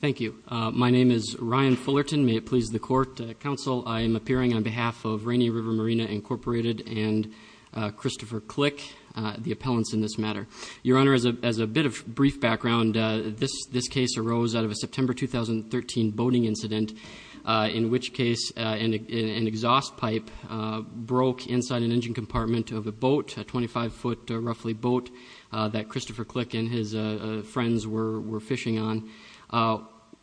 Thank you. My name is Ryan Fullerton. May it please the Court, Counsel, I am appearing on behalf of Rainier River Marina Incorporated and Christopher Klick, the appellants in this matter. Your Honor, as a bit of brief background, this case arose out of a September 2013 boating incident in which case an exhaust pipe broke inside an engine compartment of a boat, a 25-foot roughly boat, that Christopher Klick and his friends were fishing on.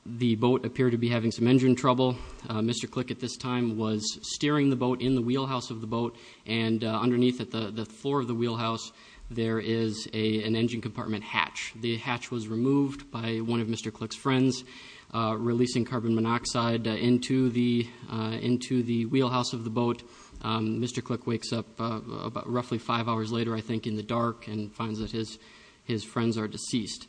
The boat appeared to be having some engine trouble. Mr. Klick at this time was steering the boat in the wheelhouse of the boat and underneath at the floor of the wheelhouse there is an engine compartment hatch. The hatch was removed by one of Mr. Klick's friends, releasing carbon monoxide into the wheelhouse of the boat. Mr. Klick wakes up about roughly five hours later I think in the dark and finds that his friends are deceased.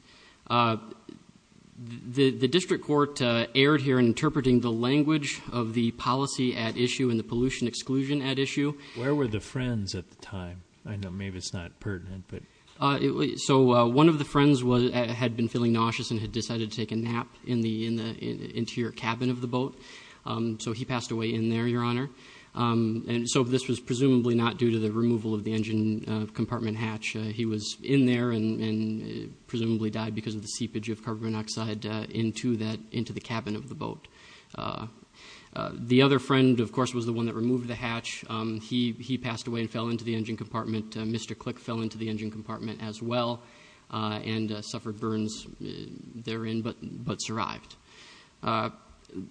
The district court erred here in interpreting the language of the policy at issue and the pollution exclusion at issue. Where were the friends at the time? I know maybe it's not pertinent. So one of the friends had been feeling nauseous and had decided to take a nap in the interior cabin of the boat. So he passed away in there, Your Honor. So this was presumably not due to the removal of the engine compartment hatch. He was in there and presumably died because of the seepage of carbon monoxide into the cabin of the boat. The other friend of course was the one that removed the hatch. He passed away and fell into the engine compartment. Mr. Klick fell into the engine compartment as well and suffered burns therein but survived.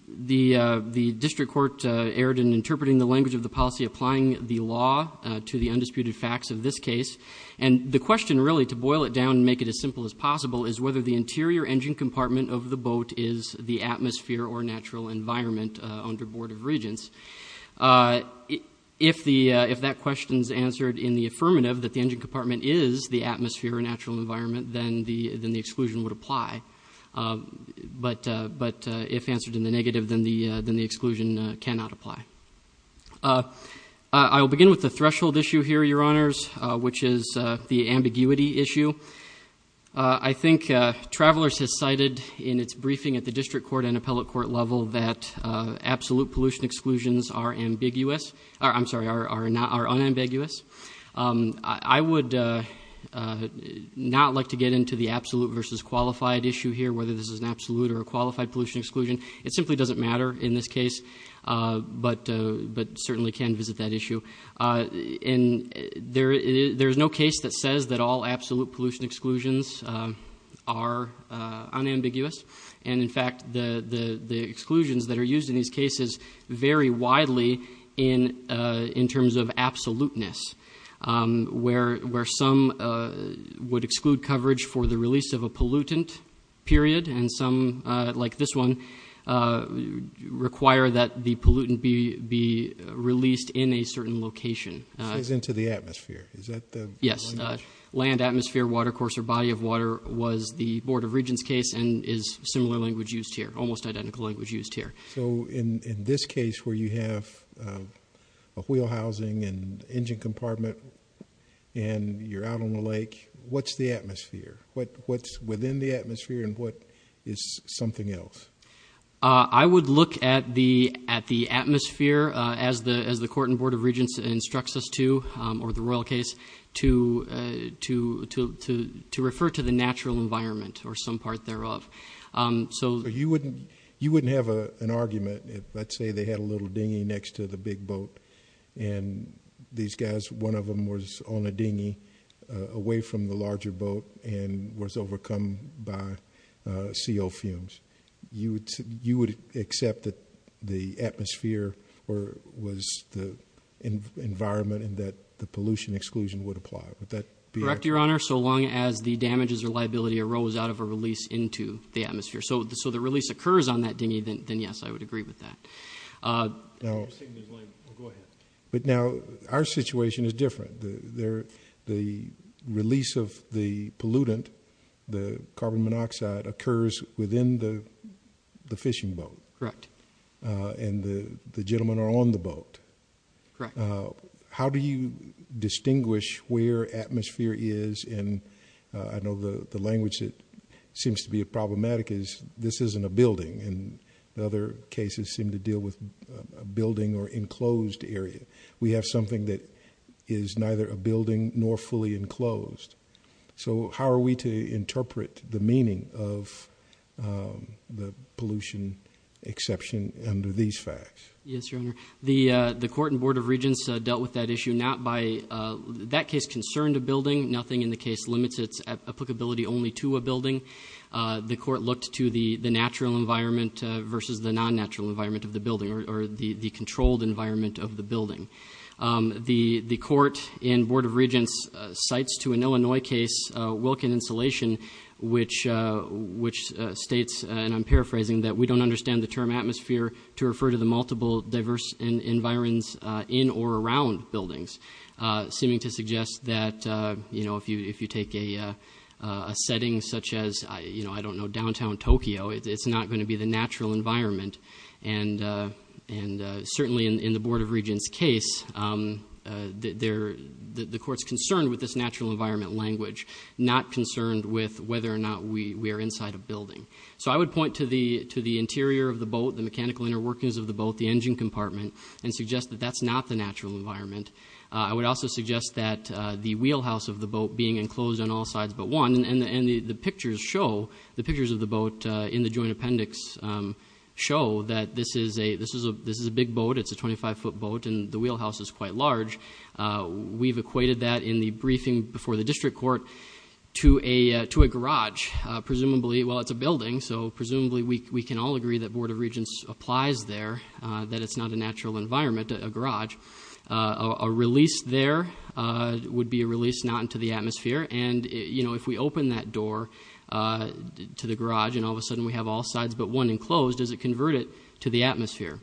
The district court erred in interpreting the language of the policy, applying the law to the undisputed facts of this case. And the question really to boil it down and make it as simple as possible is whether the interior engine compartment of the boat is the atmosphere or natural environment under Board of Regents. If that question is answered in the affirmative that the engine compartment is the atmosphere or natural environment, then the exclusion would apply. But if answered in the negative, then the exclusion cannot apply. I will begin with the threshold issue here, Your Honors, which is the ambiguity issue. I think Travelers has cited in its briefing at the district court and appellate court level that absolute pollution exclusions are unambiguous. I would not like to get into the absolute versus qualified issue here, whether this is an absolute or a qualified pollution exclusion. It simply doesn't matter in this case, but certainly can visit that issue. And there is no case that says that all absolute pollution exclusions are unambiguous. And in fact, the exclusions that are used in these cases vary widely in terms of absoluteness, where some would exclude coverage for the release of a pollutant period, and some, like this one, require that the pollutant be released in a certain location. It says into the atmosphere. Is that the language? Yes. Land, atmosphere, watercourse, or body of water was the Board of Regents case and is similar language used here, almost identical language used here. So in this case where you have a wheel housing and engine compartment and you're out on the lake, what's the atmosphere? What's within the atmosphere and what is something else? I would look at the atmosphere as the Court and Board of Regents instructs us to, or the Royal case, to refer to the natural environment or some part thereof. So you wouldn't have an argument if, let's say, they had a little dinghy next to the big boat and these guys, one of them was on a dinghy away from the larger boat and was overcome by CO fumes. You would accept that the atmosphere was the environment and that the pollution exclusion would apply. Would that be? So long as the damages or liability arose out of a release into the atmosphere. So the release occurs on that dinghy, then yes, I would agree with that. But now our situation is different. The release of the pollutant, the carbon monoxide, occurs within the fishing boat. And the gentlemen are on the boat. Correct. How do you distinguish where atmosphere is? And I know the language that seems to be problematic is this isn't a building. And other cases seem to deal with a building or enclosed area. We have something that is neither a building nor fully enclosed. So how are we to interpret the meaning of the pollution exception under these facts? Yes, Your Honor. The court and Board of Regents dealt with that issue not by, that case concerned a building. Nothing in the case limits its applicability only to a building. The court looked to the natural environment versus the non-natural environment of the building or the controlled environment of the building. The court and Board of Regents cites to an Illinois case, Wilkin Insulation, which states, and I'm paraphrasing, that we don't understand the term atmosphere to refer to the multiple diverse environments in or around buildings, seeming to suggest that if you take a setting such as, I don't know, downtown Tokyo, it's not going to be the natural environment. And certainly in the Board of Regents case, the court's concerned with this natural environment language, not concerned with whether or not we are inside a building. So I would point to the interior of the boat, the mechanical inner workings of the boat, the engine compartment, and suggest that that's not the natural environment. I would also suggest that the wheelhouse of the boat being enclosed on all sides but one, and the pictures show, the pictures of the boat in the joint appendix show that this is a big boat, it's a 25-foot boat, and the wheelhouse is quite large. We've equated that in the briefing before the district court to a garage. Presumably, well, it's a building, so presumably we can all agree that Board of Regents applies there, that it's not a natural environment, a garage. A release there would be a release not into the atmosphere, and if we open that door to the garage and all of a sudden we have all sides but one enclosed, does it convert it to the atmosphere?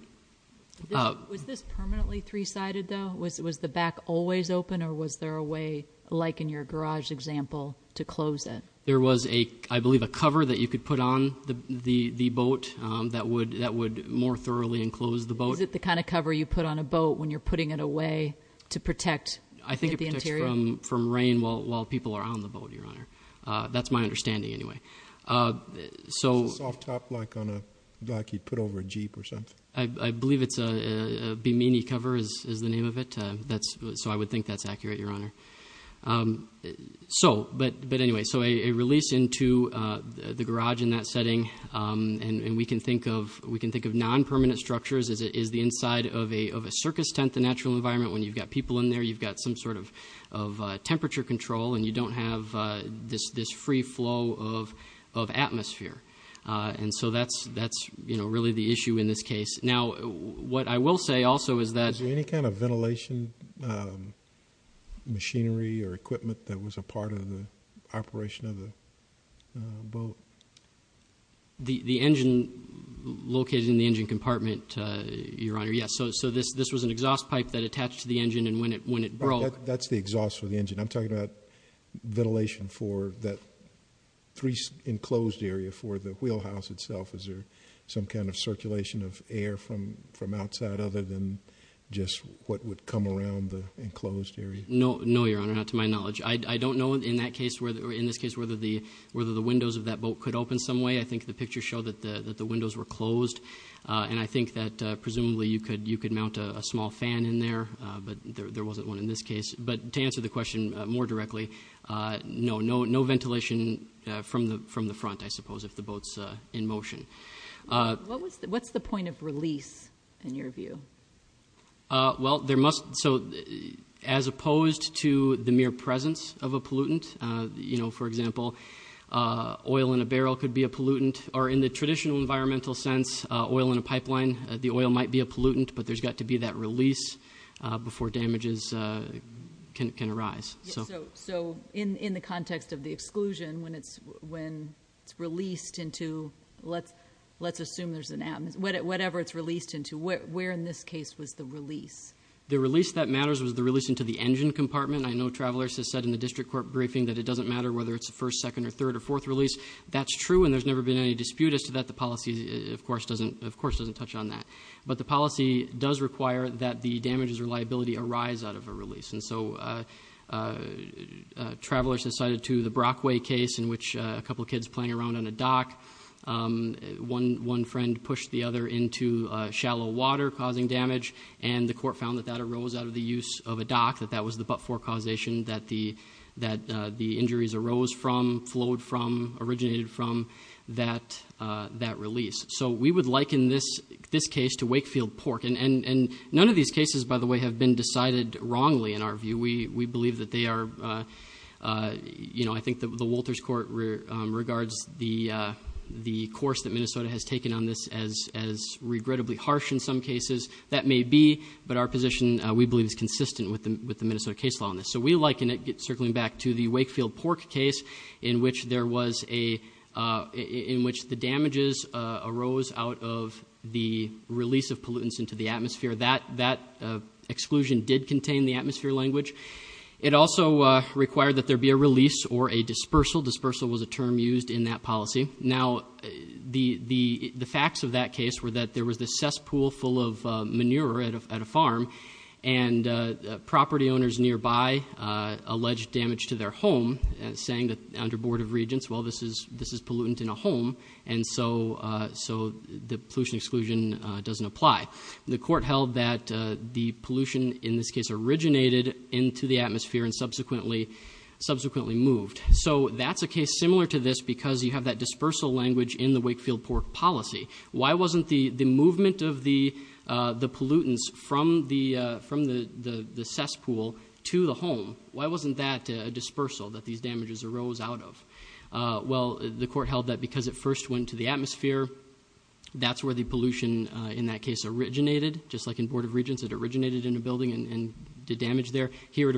Was this permanently three-sided, though? Was the back always open or was there a way, like in your garage example, to close it? There was, I believe, a cover that you could put on the boat that would more thoroughly enclose the boat. Is it the kind of cover you put on a boat when you're putting it away to protect the interior? I think it protects from rain while people are on the boat, Your Honor. That's my understanding, anyway. Is the soft top like you'd put over a jeep or I believe it's a Bimini cover is the name of it, so I would think that's accurate, Your Honor. But anyway, so a release into the garage in that setting, and we can think of non-permanent structures as the inside of a circus tent, the natural environment, when you've got people in there, you've got some sort of temperature control, and you don't have this free flow of atmosphere, and so that's, you know, really the issue in this case. Now, what I will say also is that... Is there any kind of ventilation machinery or equipment that was a part of the operation of the boat? The engine located in the engine compartment, Your Honor, yes. So this was an exhaust pipe that attached to the engine, and when it broke... That's the exhaust for the engine. I'm talking about ventilation for that three enclosed area for the wheelhouse itself. Is there some kind of circulation of air from outside other than just what would come around the enclosed area? No, no, Your Honor. Not to my knowledge. I don't know in this case whether the windows of that boat could open some way. I think the pictures show that the windows were closed, and I think that presumably you could mount a small fan in there, but there wasn't one in this case. But to answer the question more directly, no. No ventilation from the front, I suppose, if the boat's in motion. What's the point of release in your view? Well, there must... So as opposed to the mere presence of a pollutant, you know, for example, oil in a barrel could be a pollutant, or in the traditional environmental sense, oil in a pipeline, the oil might be a pollutant, but there's got to be that release before damages can arise. So in the context of the exclusion, when it's released into, let's assume there's an... Whatever it's released into, where in this case was the release? The release that matters was the release into the engine compartment. I know Travelers has said in the district court briefing that it doesn't matter whether it's the first, second, or third, or fourth release. That's true, and there's never been any dispute as to that. The policy, of course, doesn't touch on that. But the policy does require that the damages or liability arise out of a release. And so Travelers has cited to the Brockway case in which a couple of kids playing around on a dock, one friend pushed the other into shallow water, causing damage, and the court found that that arose out of the use of a dock, that that was forecausation that the injuries arose from, flowed from, originated from that release. So we would liken this case to Wakefield Pork. And none of these cases, by the way, have been decided wrongly in our view. We believe that they are... I think the Wolters Court regards the course that Minnesota has taken on this as regrettably harsh in some cases. That may be, but our position, we believe, is consistent with the Minnesota case law on this. So we liken it, circling back to the Wakefield Pork case, in which there was a... in which the damages arose out of the release of pollutants into the atmosphere. That exclusion did contain the atmosphere language. It also required that there be a release or a dispersal. Dispersal was a term used in that policy. Now, the facts of that case were that there was this cesspool full of pollutants at a farm, and property owners nearby alleged damage to their home, saying that under Board of Regents, well, this is pollutant in a home, and so the pollution exclusion doesn't apply. The court held that the pollution, in this case, originated into the atmosphere and subsequently moved. So that's a case similar to this because you have that dispersal language in the Wakefield Pork policy. Why wasn't the movement of the pollutants from the cesspool to the home, why wasn't that a dispersal that these damages arose out of? Well, the court held that because it first went to the atmosphere, that's where the pollution in that case originated, just like in Board of Regents, it originated in a building and did damage there. Here, it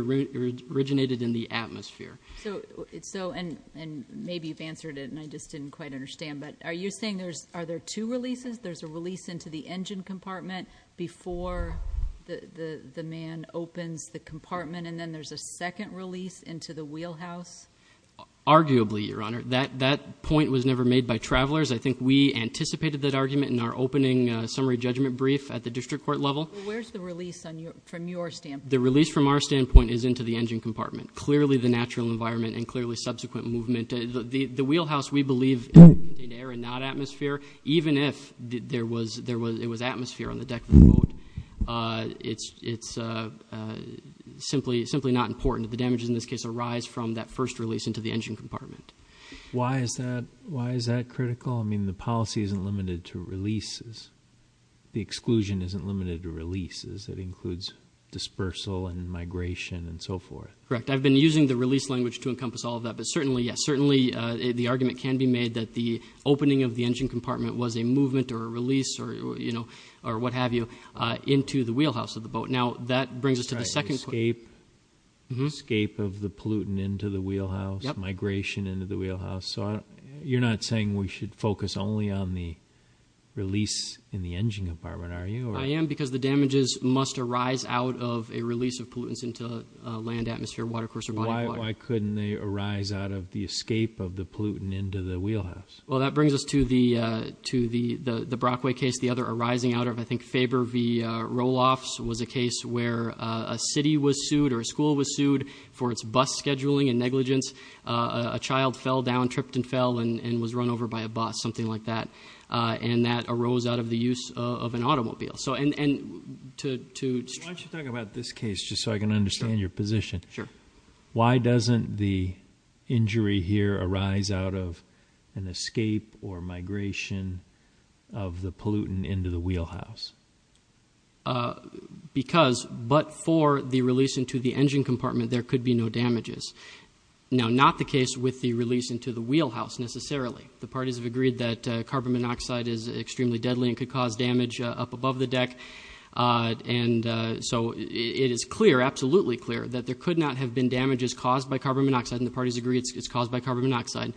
originated in the atmosphere. So it's so... and maybe you've answered it, and I just didn't quite understand, but are you saying there's, are there two releases? There's a release into the engine compartment before the man opens the compartment, and then there's a second release into the wheelhouse? Arguably, Your Honor. That point was never made by travelers. I think we anticipated that argument in our opening summary judgment brief at the district court level. Where's the release from your standpoint? The release from our standpoint is into the engine compartment. Clearly the natural believe in air and not atmosphere, even if there was atmosphere on the deck of the boat, it's simply not important that the damages in this case arise from that first release into the engine compartment. Why is that critical? I mean, the policy isn't limited to releases. The exclusion isn't limited to releases. It includes dispersal and migration and so forth. Correct. I've been using the release language to encompass all of that, but certainly, yes, it can be made that the opening of the engine compartment was a movement or a release or, you know, or what have you, into the wheelhouse of the boat. Now that brings us to the second question. Escape of the pollutant into the wheelhouse, migration into the wheelhouse. So you're not saying we should focus only on the release in the engine compartment, are you? I am because the damages must arise out of a release of pollutants into land, atmosphere, watercourse, Why couldn't they arise out of the escape of the pollutant into the wheelhouse? Well, that brings us to the to the the Brockway case. The other arising out of, I think, Faber v. Roloff was a case where a city was sued or a school was sued for its bus scheduling and negligence. A child fell down, tripped and fell and was run over by a bus, something like that. And that arose out of the use of an automobile. So and to talk about this case, just so I can understand your position, why doesn't the injury here arise out of an escape or migration of the pollutant into the wheelhouse? Because but for the release into the engine compartment, there could be no damages. Now, not the case with the release into the wheelhouse, necessarily. The parties have agreed that carbon monoxide is extremely deadly and could cause damage up above the deck. And so it is clear, absolutely clear that there could not have been damages caused by carbon monoxide. And the parties agree it's caused by carbon monoxide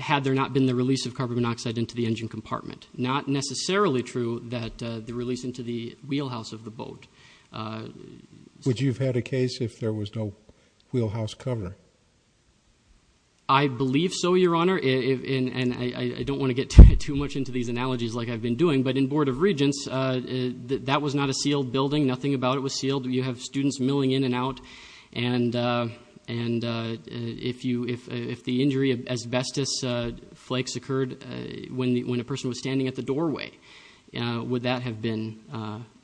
had there not been the release of carbon monoxide into the engine compartment. Not necessarily true that the release into the wheelhouse of the boat. Would you have had a case if there was no wheelhouse cover? I believe so, your honor. And I don't want to get too much into these analogies like I've been doing, but in Board of Regents, that was not a sealed building. Nothing about it was sealed. You have students milling in and out. And if the injury asbestos flakes occurred when a person was standing at the doorway, would that have been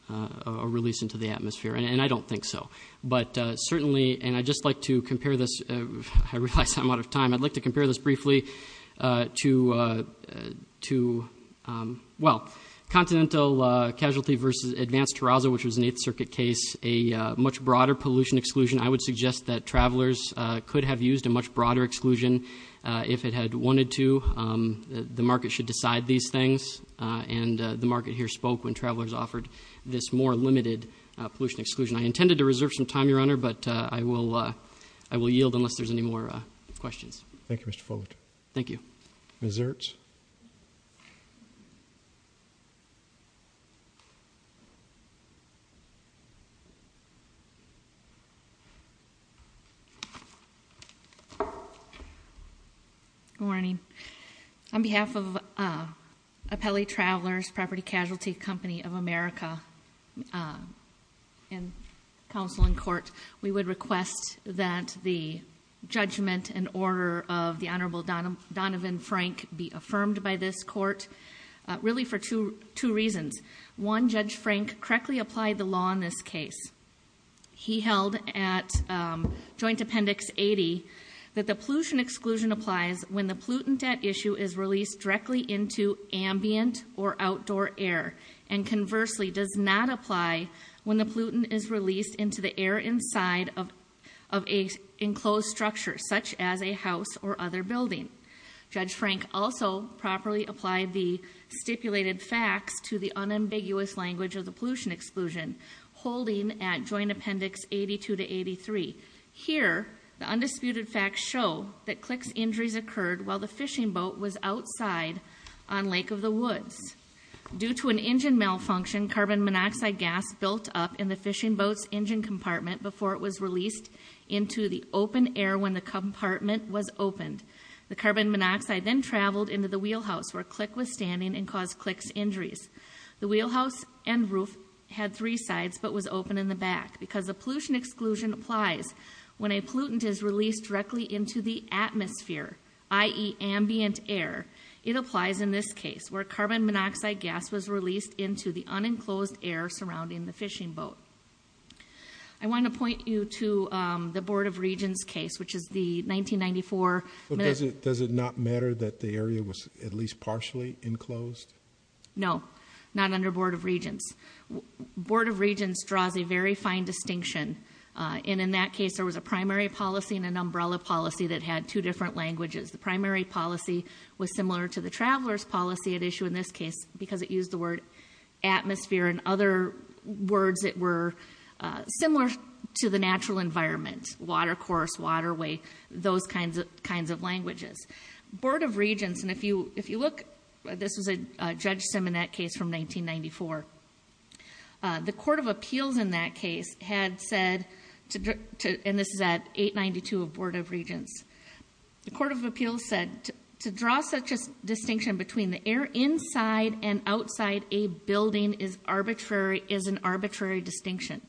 a release into the atmosphere? And I don't think so. But certainly, and I just like to compare this. I realize I'm out of time. I'd like to compare this briefly to, well, continental casualty versus advanced terrazzo, which was an eighth circuit case, a much broader pollution exclusion. I would suggest that travelers could have used a much broader exclusion if it had wanted to. The market should decide these things. And the market here spoke when travelers offered this more limited pollution exclusion. I intended to reserve some time, your honor, but I will yield unless there's any more questions. Thank you, Mr. Fogarty. Thank you. Ms. Ertz. Good morning. On behalf of Apelli Travelers, Property Casualty Company of America and counsel in court, we would request that the judgment and order of the Honorable Donovan Frank be affirmed by this court, really for two reasons. One, Judge Frank correctly applied the law in this case. He held at joint appendix 80 that the pollution exclusion applies when the pollutant issue is released directly into ambient or outdoor air, and conversely does not apply when the pollutant is released into the air inside of an enclosed structure, such as a house or other building. Judge Frank also properly applied the stipulated facts to the unambiguous language of the pollution exclusion, holding at joint appendix 82 to 83. Here, the undisputed facts show that Click's injuries occurred while the fishing boat was outside on Lake of the Woods. Due to an engine malfunction, carbon monoxide gas built up in the fishing boat's engine compartment before it was released into the open air when the compartment was opened. The carbon monoxide then traveled into the wheelhouse where Click was standing and caused Click's injuries. The wheelhouse and roof had three sides but was open in the back because the pollution exclusion applies when a pollutant is released directly into the atmosphere, i.e. ambient air. It applies in this case where carbon monoxide gas was released into the unenclosed air surrounding the fishing boat. I want to point you to the Board of Regents case, which is the 1994. Does it not matter that the area was at least partially enclosed? No, not under Board of Regents. Board of Regents draws a very fine distinction, and in that case there was a primary policy and an umbrella policy that had two different languages. The primary policy was similar to the traveler's policy at issue in this case because it used the word atmosphere and other words that were similar to the natural environment, watercourse, waterway, those kinds of languages. Board of Regents, and if you look, this was a judge sim in that case from 1994, the Court of Appeals in that case had said, and this is at 892 of Board of Regents, the Court of Appeals said to draw such a distinction between the air inside and outside a building is an arbitrary distinction.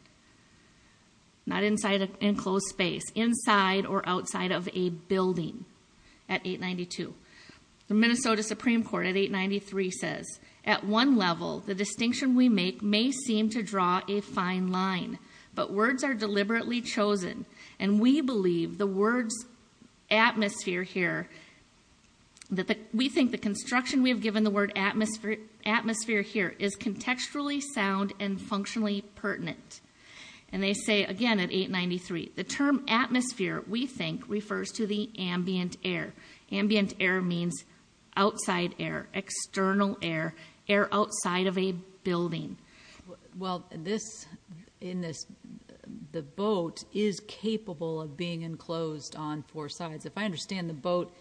Not inside an enclosed space, inside or outside of a building at 892. The Minnesota Supreme Court at 893 says, at one level, the distinction we make may seem to draw a fine line, but words are deliberately chosen, and we believe the words atmosphere here is contextually sound and functionally pertinent. And they say again at 893, the term atmosphere, we think, refers to the ambient air. Ambient air means outside air, external air, air outside of a building. Well, this, in this, the boat is capable of being enclosed on four sides. If I understand the boat,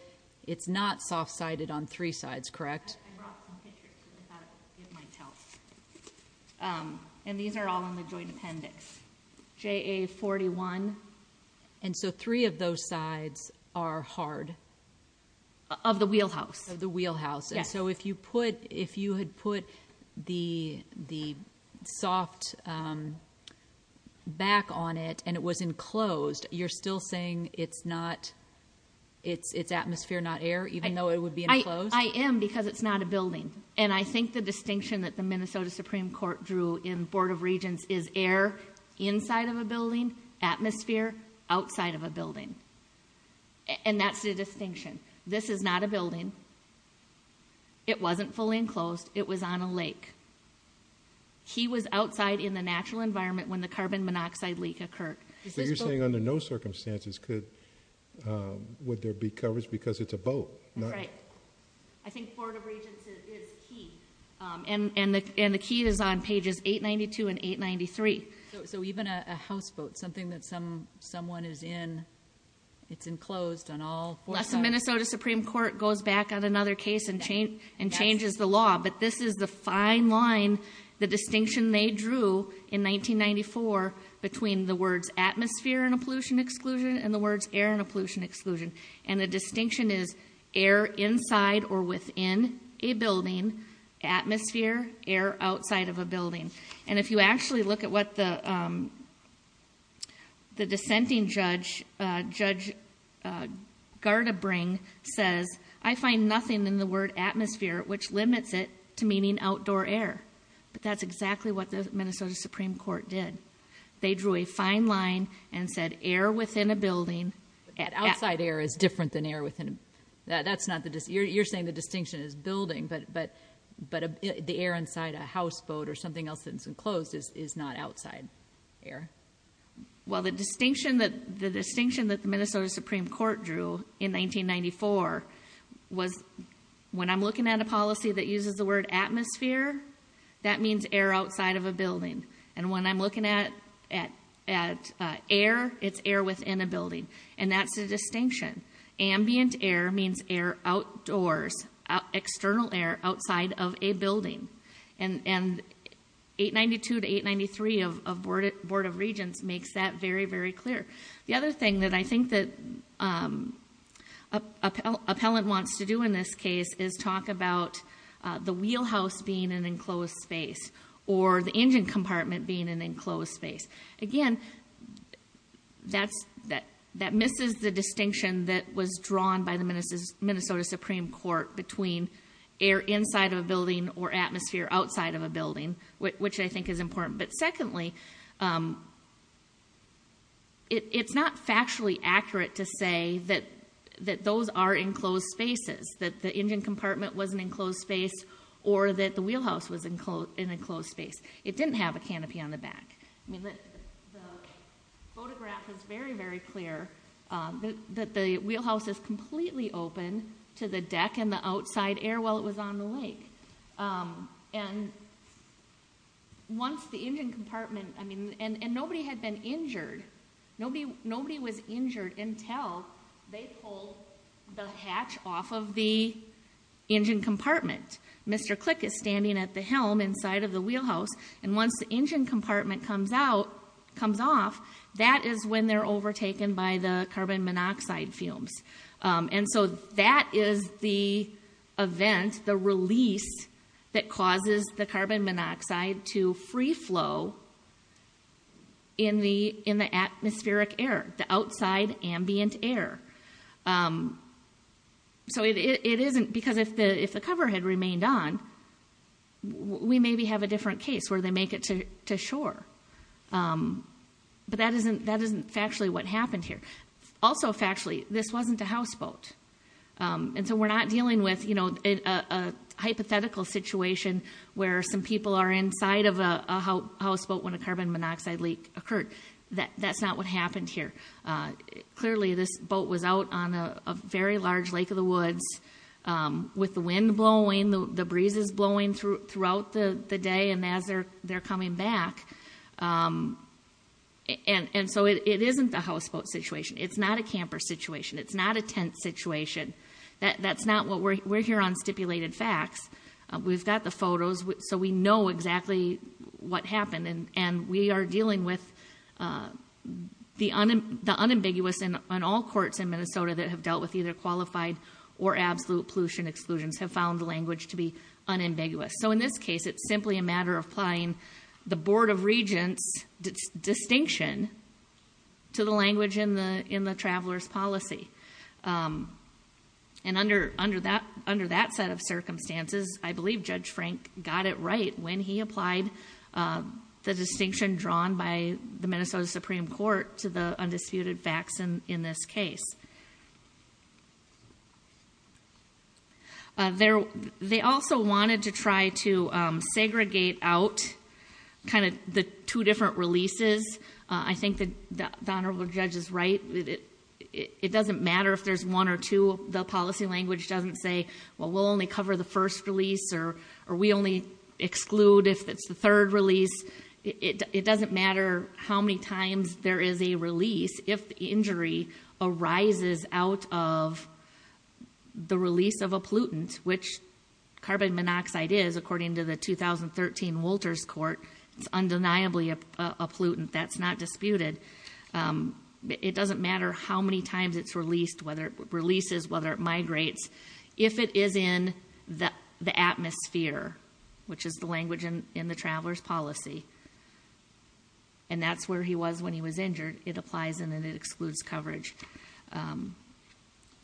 it's not soft-sided on three sides, correct? I thought it might help. And these are all in the joint appendix. JA41. And so three of those sides are hard? Of the wheelhouse. Of the wheelhouse. Yes. So if you put, if you had put the soft back on it and it was enclosed, you're still saying it's not, it's atmosphere, not air, even though it would be enclosed? I am because it's not a building. And I think the distinction that the Minnesota Supreme Court drew in Board of Regents is air inside of a building, atmosphere outside of a building. And that's the distinction. This is not a building. It wasn't fully enclosed. It was on a lake. He was outside in the natural environment when the carbon monoxide leak occurred. So you're saying under no circumstances could, would there be coverage because it's a boat? That's right. I think Board of Regents is key. And the key is on pages 892 and 893. So even a houseboat, something that someone is in, it's enclosed on all four sides? Unless the Minnesota Supreme Court goes back on another case and changes the law. But this is the fine line, the distinction they drew in 1994 between the words atmosphere and a pollution exclusion. And the distinction is air inside or within a building, atmosphere, air outside of a building. And if you actually look at what the, the dissenting judge, Judge Gardabring says, I find nothing in the word atmosphere, which limits it to meaning outdoor air. But that's exactly what the Minnesota Supreme Court did. They drew a fine line and said air within a building. Outside air is different than air within a, that's not the, you're saying the distinction is building, but, but, but the air inside a houseboat or something else that's enclosed is, is not outside air. Well, the distinction that the distinction that the Minnesota Supreme Court drew in 1994 was when I'm looking at a policy that uses the word atmosphere, that means air outside of a building. And when I'm looking at, at, at air, it's air within a building. And that's a distinction. Ambient air means air outdoors, external air outside of a building. And, and 892 to 893 of, of Board of Regents makes that very, very clear. The other thing that I think that appellant wants to do in this case is talk about the wheelhouse being an enclosed space or the engine compartment being an enclosed space. Again, that's, that, that misses the distinction that was drawn by the Minnesota Supreme Court between air inside of a building or atmosphere outside of a building, which I think is important. But secondly, it, it's not factually accurate to say that, that those are enclosed spaces, that the engine was enclosed, an enclosed space. It didn't have a canopy on the back. I mean, the, the photograph was very, very clear that, that the wheelhouse is completely open to the deck and the outside air while it was on the lake. And once the engine compartment, I mean, and, and nobody had been injured. Nobody, nobody was injured until they pulled the hatch off of the engine compartment. Mr. Click is standing at the helm inside of the wheelhouse and once the engine compartment comes out, comes off, that is when they're overtaken by the carbon monoxide fumes. And so that is the event, the release that causes the carbon monoxide to free flow in the, in the atmospheric air, the outside ambient air. So it, it, it isn't because if the, if the cover had remained on, we maybe have a different case where they make it to shore. But that isn't, that isn't factually what happened here. Also factually, this wasn't a houseboat. And so we're not dealing with, you know, a hypothetical situation where some people are inside of a houseboat when a carbon was out on a very large lake of the woods with the wind blowing, the breezes blowing through throughout the day and as they're, they're coming back. And, and so it isn't the houseboat situation. It's not a camper situation. It's not a tent situation. That, that's not what we're, we're here on stipulated facts. We've got the photos so we know exactly what happened. And, and we are dealing with the unambiguous and on all courts in Minnesota that have dealt with either qualified or absolute pollution exclusions have found the language to be unambiguous. So in this case, it's simply a matter of applying the Board of Regents distinction to the language in the, in the traveler's policy. And under, under that, under that set of circumstances, I believe Judge Frank got it right when he applied the distinction drawn by the Minnesota Supreme Court to the undisputed facts in this case. There, they also wanted to try to segregate out kind of the two different releases. I think the, the honorable judge is right. It doesn't matter if there's one or two, the policy language doesn't say, well, we'll only cover the first release or, or we only exclude if it's the third release. It, it doesn't matter how many times there is a release. If the injury arises out of the release of a pollutant, which carbon monoxide is according to the 2013 Wolters court, it's undeniably a pollutant that's not disputed. It doesn't matter how many times it's released, whether it releases, whether it migrates, if it is in the, the atmosphere, which is the language in, in the traveler's policy. And that's where he was when he was injured. It applies and then it excludes coverage.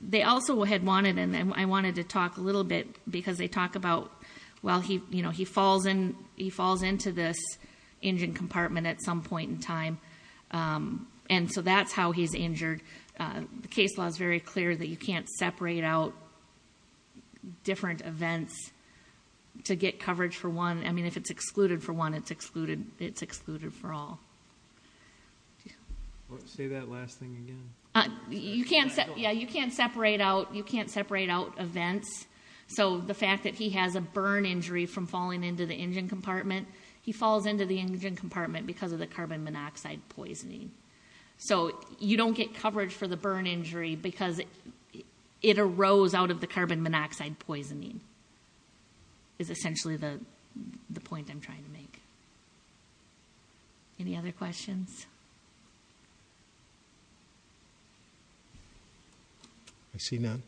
They also had wanted, and I wanted to talk a little bit because they talk about, well, he, you know, he falls in, he falls into this engine case. Law's very clear that you can't separate out different events to get coverage for one. I mean, if it's excluded for one, it's excluded, it's excluded for all say that last thing again, you can't say, yeah, you can't separate out, you can't separate out events. So the fact that he has a burn injury from falling into the engine compartment, he falls into the engine compartment because of the carbon monoxide poisoning. So you don't get coverage for the burn injury because it arose out of the carbon monoxide poisoning is essentially the, the point I'm trying to make. Any other questions? I see none.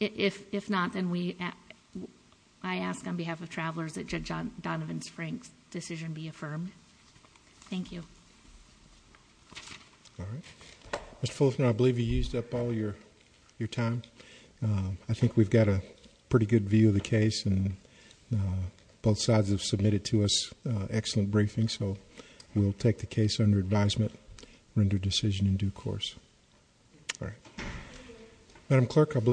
If, if not, then we, I ask on behalf of travelers that judge Donovan's decision be affirmed. Thank you. All right. Mr. Fullerton, I believe you used up all your, your time. Um, I think we've got a pretty good view of the case and, uh, both sides have submitted to us, uh, excellent briefing. So we'll take the case under advisement, render decision in due course. All right. Madam clerk. I believe